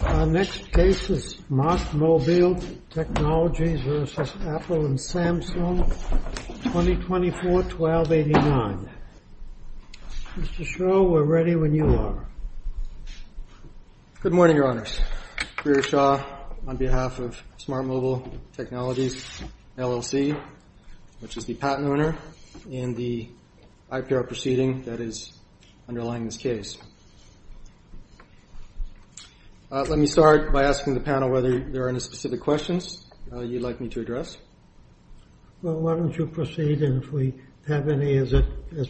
Our next case is Smart Mobile Technologies v. Apple and Samsung 2024-1289. Mr. Shaw, we're ready when you are. Good morning, Your Honors. Greer Shaw on behalf of Smart Mobile Technologies LLC, which is the patent owner in the IPR proceeding that is underlying this case. Let me start by asking the panel whether there are any specific questions you'd like me to address. Well, why don't you proceed, and if we have any as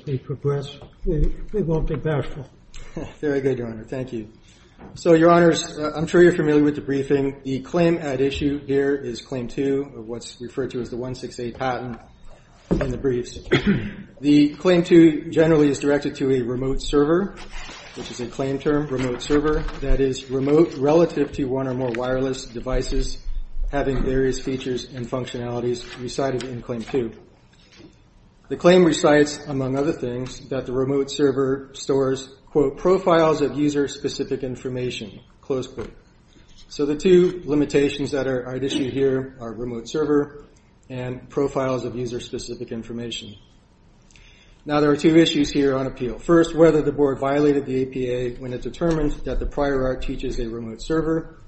we progress, we won't be bashful. Very good, Your Honor. Thank you. So, Your Honors, I'm sure you're familiar with the briefing. The claim at issue here is Claim 2 of what's referred to as the 168 patent and the briefs. The Claim 2 generally is directed to a remote server, which is a claim term, remote server. That is, remote relative to one or more wireless devices having various features and functionalities recited in Claim 2. The claim recites, among other things, that the remote server stores, quote, profiles of user-specific information, close quote. So, the two limitations that are at issue here are remote server and profiles of user-specific information. Now, there are two issues here on appeal. First, whether the board violated the APA when it determined that the prior art teaches a remote server,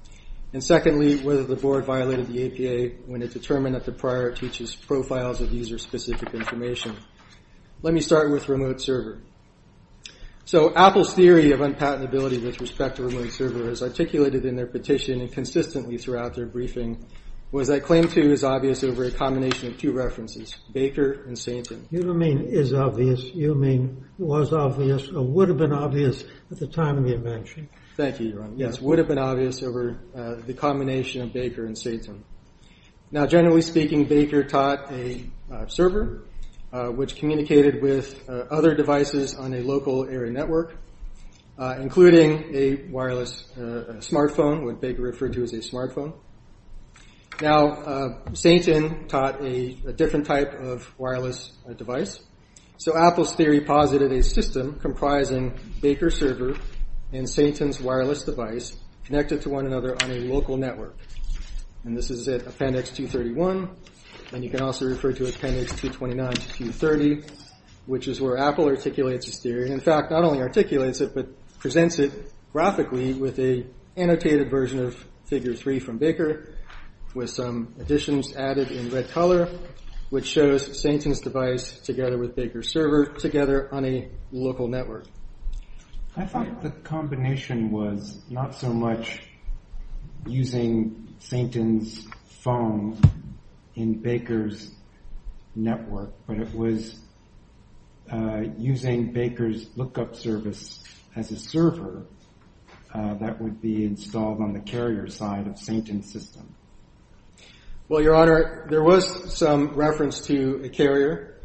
and secondly, whether the board violated the APA when it determined that the prior art teaches profiles of user-specific information. Let me start with remote server. So, Apple's theory of unpatentability with respect to remote servers articulated in their petition and consistently throughout their briefing was that Claim 2 is obvious over a combination of two references, Baker and Satan. You don't mean is obvious, you mean was obvious or would have been obvious at the time of your mention. Thank you, Your Honor. Yes, would have been obvious over the combination of Baker and Satan. Now, generally speaking, Baker taught a server, which communicated with other devices on a local area network, including a wireless smartphone, what Baker referred to as a smartphone. Now, Satan taught a different type of wireless device. So, Apple's theory posited a system comprising Baker's server and Satan's wireless device connected to one another on a local network. And this is at appendix 231, and you can also refer to appendix 229 to 230, which is where Apple articulates this theory. In fact, not only articulates it, but presents it graphically with an annotated version of figure 3 from Baker with some additions added in red color, which shows Satan's device together with Baker's server together on a local network. I thought the combination was not so much using Satan's phone in Baker's network, but it was using Baker's lookup service as a server that would be installed on the carrier side of Satan's system. Well, Your Honor, there was some reference to a carrier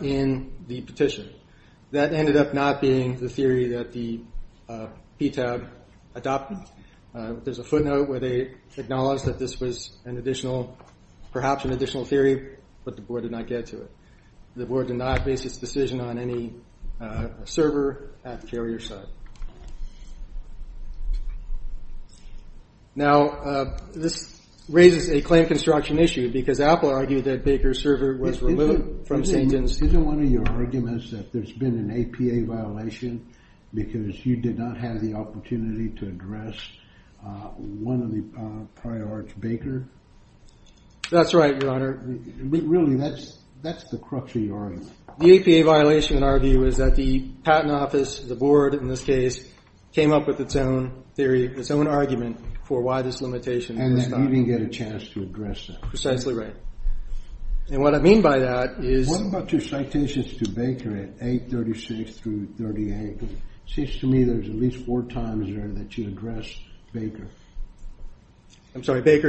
in the petition. That ended up not being the theory that the PTAB adopted. There's a footnote where they acknowledge that this was an additional, perhaps an additional theory, but the board did not get to it. The board did not base its decision on any server at the carrier side. Now, this raises a claim construction issue, because Apple argued that Baker's server was removed from Satan's… There's been an APA violation because you did not have the opportunity to address one of the prior to Baker? That's right, Your Honor. Really, that's the crux of your argument. The APA violation, in our view, is that the patent office, the board in this case, came up with its own theory, its own argument for why this limitation was not… And you didn't get a chance to address it. Precisely right. And what I mean by that is… What about your citations to Baker at A36 through 38? It seems to me there's at least four times there that you addressed Baker. I'm sorry, Baker,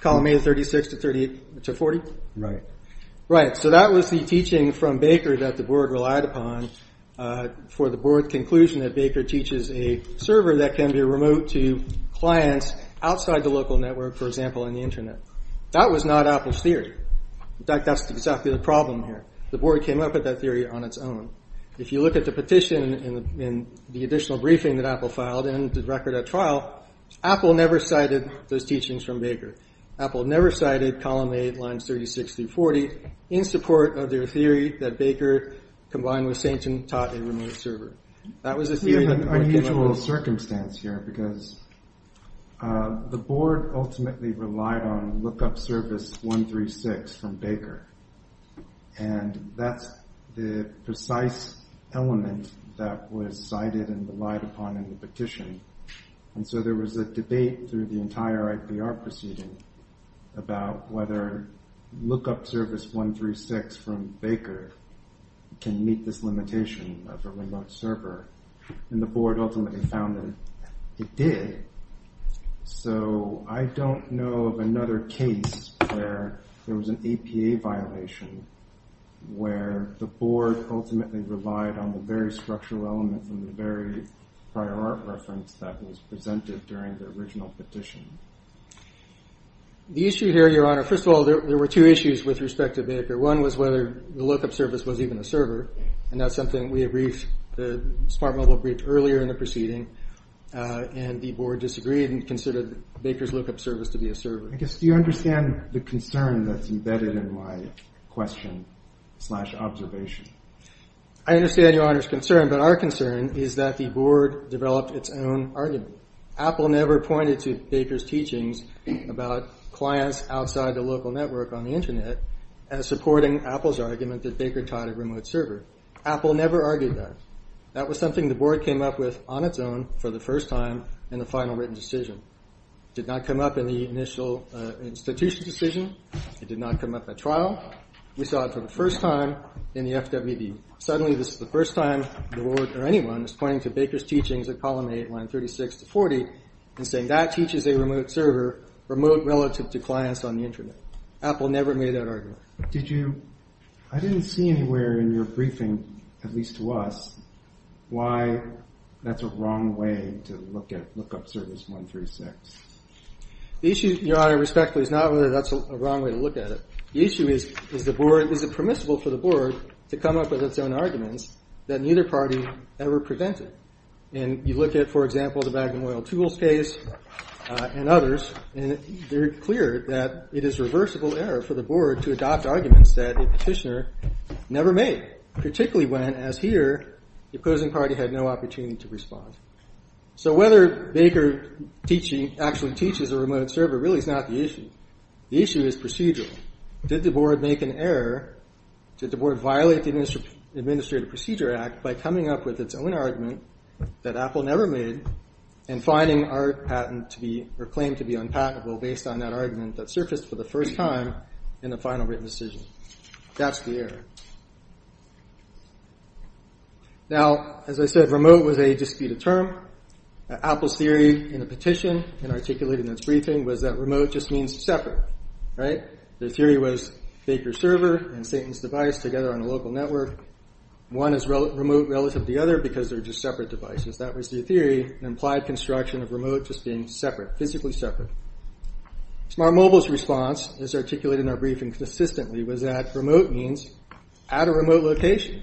column A36 to 40? Right. Right, so that was the teaching from Baker that the board relied upon for the board's conclusion that Baker teaches a server that can be remote to clients outside the local network, for example, on the Internet. That was not Apple's theory. In fact, that's exactly the problem here. The board came up with that theory on its own. If you look at the petition and the additional briefing that Apple filed and the record at trial, Apple never cited those teachings from Baker. Apple never cited column A lines 36 through 40 in support of their theory that Baker, combined with Satan, taught a remote server. There's an unusual circumstance here, because the board ultimately relied on lookup service 136 from Baker, and that's the precise element that was cited and relied upon in the petition. And so there was a debate through the entire IPR proceeding about whether lookup service 136 from Baker can meet this limitation of a remote server, and the board ultimately found that it did. So I don't know of another case where there was an APA violation where the board ultimately relied on the very structural element from the very prior art reference that was presented during the original petition. The issue here, Your Honor, first of all, there were two issues with respect to Baker. One was whether the lookup service was even a server, and that's something we briefed, the Smart Mobile briefed earlier in the proceeding, and the board disagreed and considered Baker's lookup service to be a server. I guess, do you understand the concern that's embedded in my question-slash-observation? I understand Your Honor's concern, but our concern is that the board developed its own argument. Apple never pointed to Baker's teachings about clients outside the local network on the internet as supporting Apple's argument that Baker taught a remote server. Apple never argued that. That was something the board came up with on its own for the first time in the final written decision. It did not come up in the initial institution decision. It did not come up at trial. We saw it for the first time in the FWB. Suddenly, this is the first time the board or anyone is pointing to Baker's teachings at column 8, line 36 to 40, and saying that teaches a remote server, remote relative to clients on the internet. Apple never made that argument. I didn't see anywhere in your briefing, at least to us, why that's a wrong way to look at lookup service 136. The issue, Your Honor, respectfully, is not whether that's a wrong way to look at it. The issue is, is it permissible for the board to come up with its own arguments that neither party ever prevented? And you look at, for example, the Magnum Oil Tools case and others, and they're clear that it is reversible error for the board to adopt arguments that a petitioner never made, particularly when, as here, the opposing party had no opportunity to respond. So whether Baker actually teaches a remote server really is not the issue. The issue is procedural. Did the board make an error? Did the board violate the Administrative Procedure Act by coming up with its own argument that Apple never made and finding our claim to be unpatentable based on that argument that surfaced for the first time in the final written decision? That's the error. Now, as I said, remote was a disputed term. Apple's theory in the petition and articulated in its briefing was that remote just means separate. The theory was Baker's server and Satan's device together on a local network. One is remote relative to the other because they're just separate devices. That was the theory, an implied construction of remote just being separate, physically separate. Smart Mobile's response, as articulated in our briefing consistently, was that remote means at a remote location.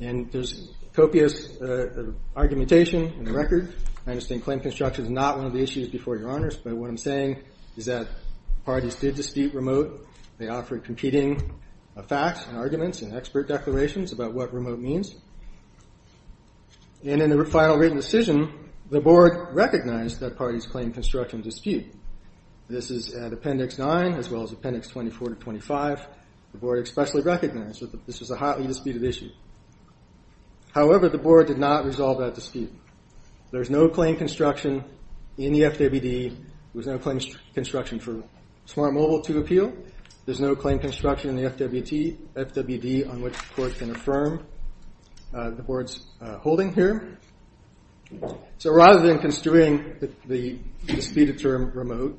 And there's copious argumentation in the record. I understand claim construction is not one of the issues before your honors, but what I'm saying is that parties did dispute remote. They offered competing facts and arguments and expert declarations about what remote means. And in the final written decision, the board recognized that parties claimed construction dispute. This is at Appendix 9 as well as Appendix 24 to 25. The board expressly recognized that this was a hotly disputed issue. However, the board did not resolve that dispute. There's no claim construction in the FWD. There was no claim construction for Smart Mobile to appeal. There's no claim construction in the FWD on which the court can affirm the board's holding here. So rather than construing the disputed term remote,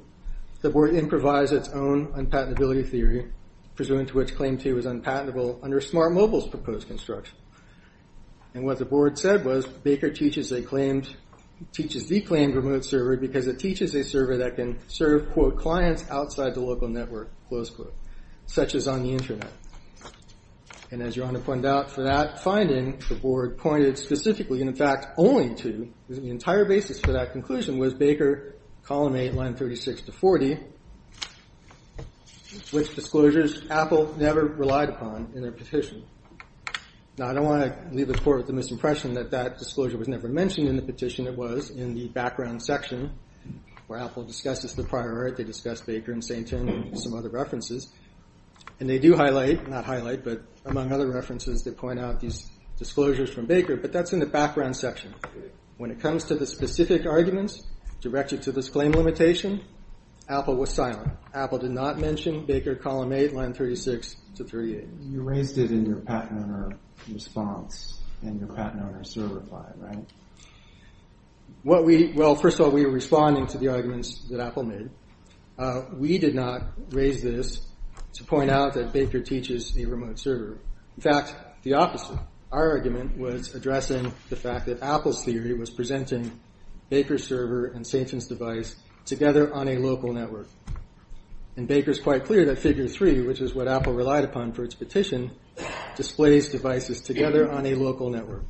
the board improvised its own unpatentability theory, presuming to which Claim 2 is unpatentable under Smart Mobile's proposed construction. And what the board said was Baker teaches the claimed remote server because it teaches a server that can serve quote, clients outside the local network, close quote, such as on the internet. And as your Honor pointed out for that finding, the board pointed specifically, in fact, only to the entire basis for that conclusion was Baker, Column 8, Line 36 to 40, which disclosures Apple never relied upon in their petition. Now, I don't want to leave the court with the misimpression that that disclosure was never mentioned in the petition. It was in the background section where Apple discussed this with prior art. They discussed Baker and St. Tim and some other references. And they do highlight, not highlight, but among other references, they point out these disclosures from Baker. But that's in the background section. When it comes to the specific arguments directed to this claim limitation, Apple was silent. Apple did not mention Baker, Column 8, Line 36 to 38. You raised it in your patent owner response and your patent owner server reply, right? Well, first of all, we were responding to the arguments that Apple made. We did not raise this to point out that Baker teaches a remote server. In fact, the opposite. Our argument was addressing the fact that Apple's theory was presenting Baker's server and St. Tim's device together on a local network. And Baker's quite clear that Figure 3, which is what Apple relied upon for its petition, displays devices together on a local network.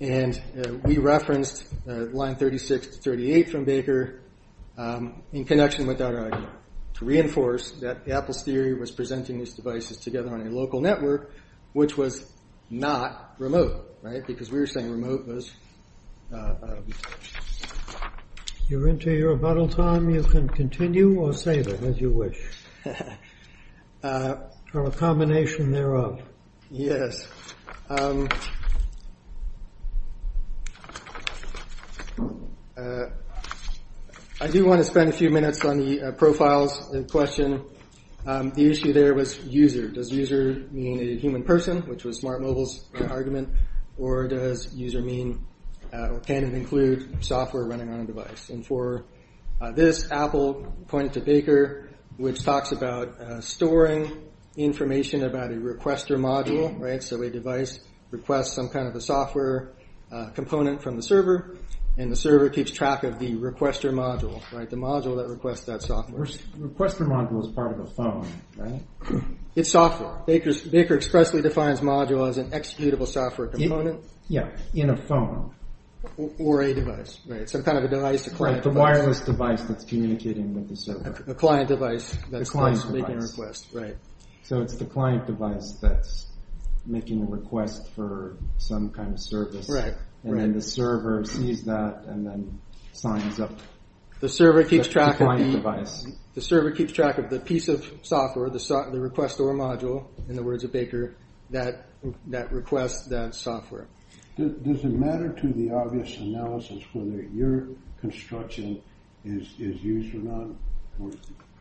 And we referenced Line 36 to 38 from Baker in connection with our argument. To reinforce that Apple's theory was presenting these devices together on a local network, which was not remote, right? Because we were saying remote was... You're into your rebuttal time. You can continue or save it as you wish. Or a combination thereof. Yes. I do want to spend a few minutes on the profiles question. The issue there was user. Does user mean a human person, which was Smart Mobile's argument? Or does user mean... Can it include software running on a device? And for this, Apple pointed to Baker, which talks about storing information about a requester module, right? It's some kind of a software component from the server, and the server keeps track of the requester module, right? The module that requests that software. The requester module is part of the phone, right? It's software. Baker expressly defines module as an executable software component. Yeah, in a phone. Or a device, right? Some kind of a device, a client device. Like the wireless device that's communicating with the server. A client device that's making a request, right. So it's the client device that's making a request for some kind of service. And then the server sees that and then signs up. The server keeps track of the piece of software, the requester module, in the words of Baker, that requests that software. Does it matter to the obvious analysis whether your construction is user-run?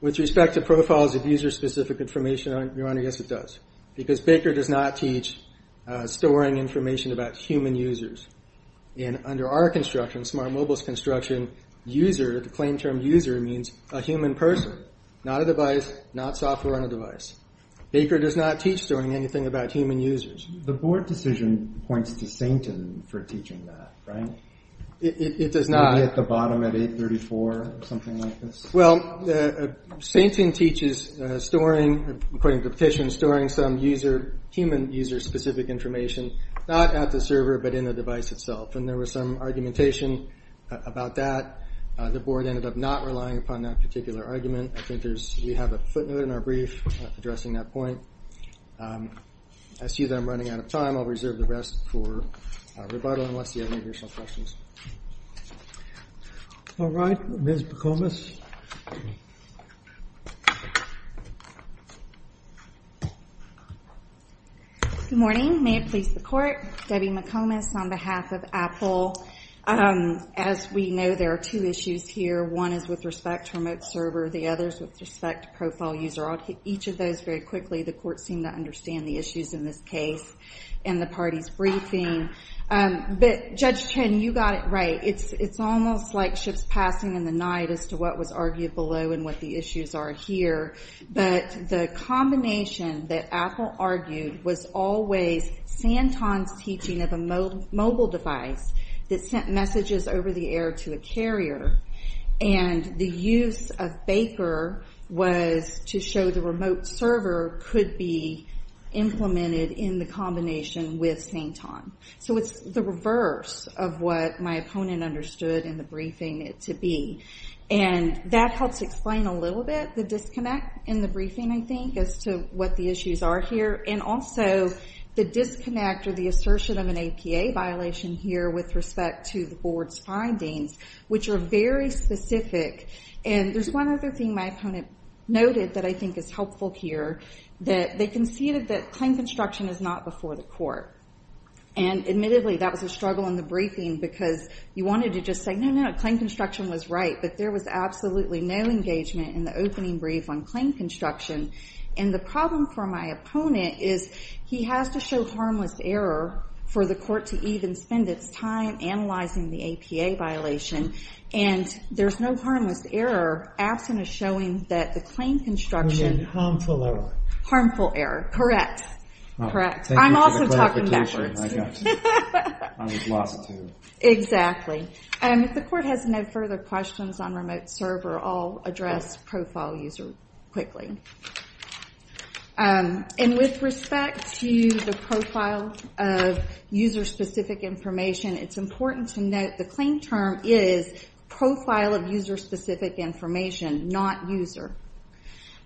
With respect to profiles of user-specific information, Your Honor, yes it does. Because Baker does not teach storing information about human users. And under our construction, Smart Mobile's construction, user, the claim term user, means a human person. Not a device, not software on a device. Baker does not teach storing anything about human users. The board decision points to Sainton for teaching that, right? It does not. Maybe at the bottom at 834 or something like this? Well, Sainton teaches storing, according to the petition, storing some human user-specific information. Not at the server, but in the device itself. And there was some argumentation about that. The board ended up not relying upon that particular argument. I think we have a footnote in our brief addressing that point. I see that I'm running out of time. I'll reserve the rest for rebuttal unless you have any additional questions. All right, Ms. McComas. Good morning. May it please the Court? Debbie McComas on behalf of Apple. As we know, there are two issues here. One is with respect to remote server. The other is with respect to profile user. Each of those, very quickly, the Court seemed to understand the issues in this case in the party's briefing. But Judge Chen, you got it right. It's almost like ships passing in the night as to what was argued below and what the issues are here. But the combination that Apple argued was always Sainton's teaching of a mobile device that sent messages over the air to a carrier. And the use of Baker was to show the remote server could be implemented in the combination with Sainton. So it's the reverse of what my opponent understood in the briefing it to be. And that helps explain a little bit the disconnect in the briefing, I think, as to what the issues are here. And also the disconnect or the assertion of an APA violation here with respect to the Board's findings, which are very specific. And there's one other thing my opponent noted that I think is helpful here. They conceded that claim construction is not before the Court. And admittedly, that was a struggle in the briefing because you wanted to just say, no, no, claim construction was right. But there was absolutely no engagement in the opening brief on claim construction. And the problem for my opponent is he has to show harmless error for the Court to even spend its time analyzing the APA violation. And there's no harmless error absent of showing that the claim construction… We mean harmful error. Harmful error, correct. Thank you for the clarification. I'm also talking backwards. I lost you. Exactly. If the Court has no further questions on remote server, I'll address profile user quickly. And with respect to the profile of user-specific information, it's important to note the claim term is profile of user-specific information, not user.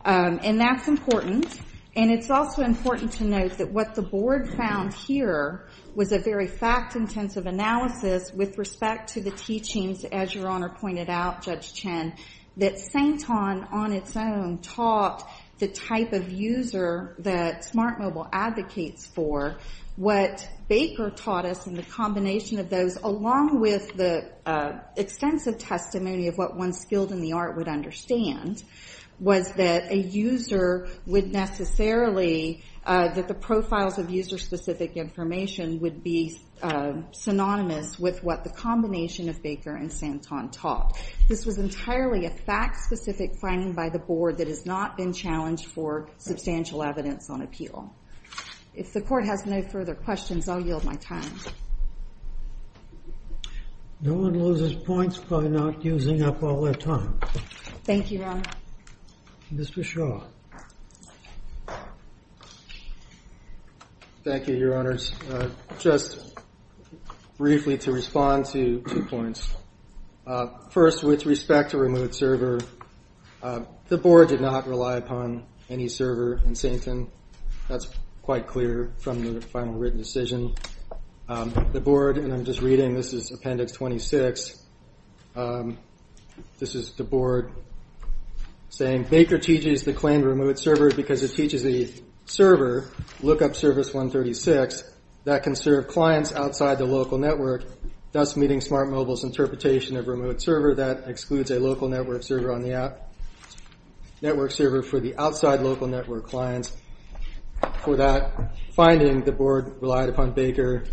And that's important. And it's also important to note that what the Board found here was a very fact-intensive analysis with respect to the teachings, as Your Honor pointed out, Judge Chen, that Saint-On, on its own, taught the type of user that Smart Mobile advocates for. What Baker taught us in the combination of those, along with the extensive testimony of what one skilled in the art would understand, was that a user would necessarily… that the profiles of user-specific information would be synonymous with what the combination of Baker and Saint-On taught. This was entirely a fact-specific finding by the Board that has not been challenged for substantial evidence on appeal. If the Court has no further questions, I'll yield my time. No one loses points for not using up all their time. Thank you, Your Honor. Mr. Shaw. Thank you, Your Honors. Just briefly to respond to two points. First, with respect to removed server, the Board did not rely upon any server in Saint-On. That's quite clear from the final written decision. The Board, and I'm just reading, this is Appendix 26. This is the Board saying, Baker teaches the claim of removed servers because it teaches the server, lookup service 136, that can serve clients outside the local network, thus meeting Smart Mobile's interpretation of removed server, that excludes a local network server on the app, network server for the outside local network clients. For that finding, the Board relied upon Baker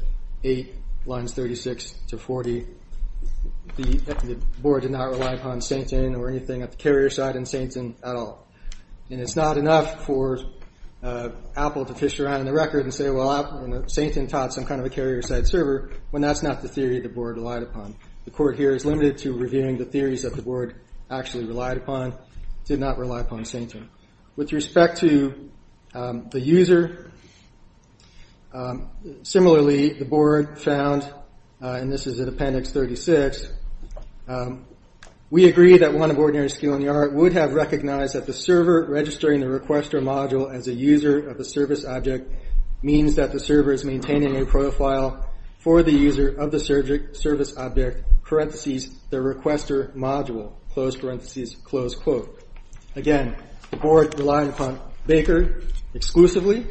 8, lines 36 to 40. The Board did not rely upon Saint-On or anything at the carrier side in Saint-On at all. And it's not enough for Apple to fish around in the record and say, well, Saint-On taught some kind of a carrier-side server, when that's not the theory the Board relied upon. The Court here is limited to reviewing the theories that the Board actually relied upon, did not rely upon Saint-On. With respect to the user, similarly, the Board found, and this is in Appendix 36, we agree that one of ordinary skill in the art would have recognized that the server registering the requester module as a user of the service object means that the server is maintaining a profile for the user of the service object, parentheses, the requester module, close parentheses, close quote. Again, the Board relied upon Baker exclusively.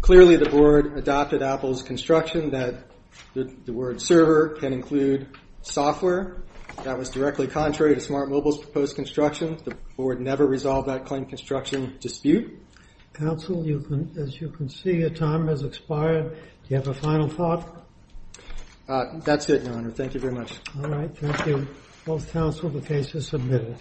Clearly, the Board adopted Apple's construction that the word server can include software. That was directly contrary to Smart Mobile's proposed construction. The Board never resolved that claim construction dispute. Counsel, as you can see, your time has expired. Do you have a final thought? That's it, Your Honor. Thank you very much. All right. Thank you. Both counsel, the case is submitted.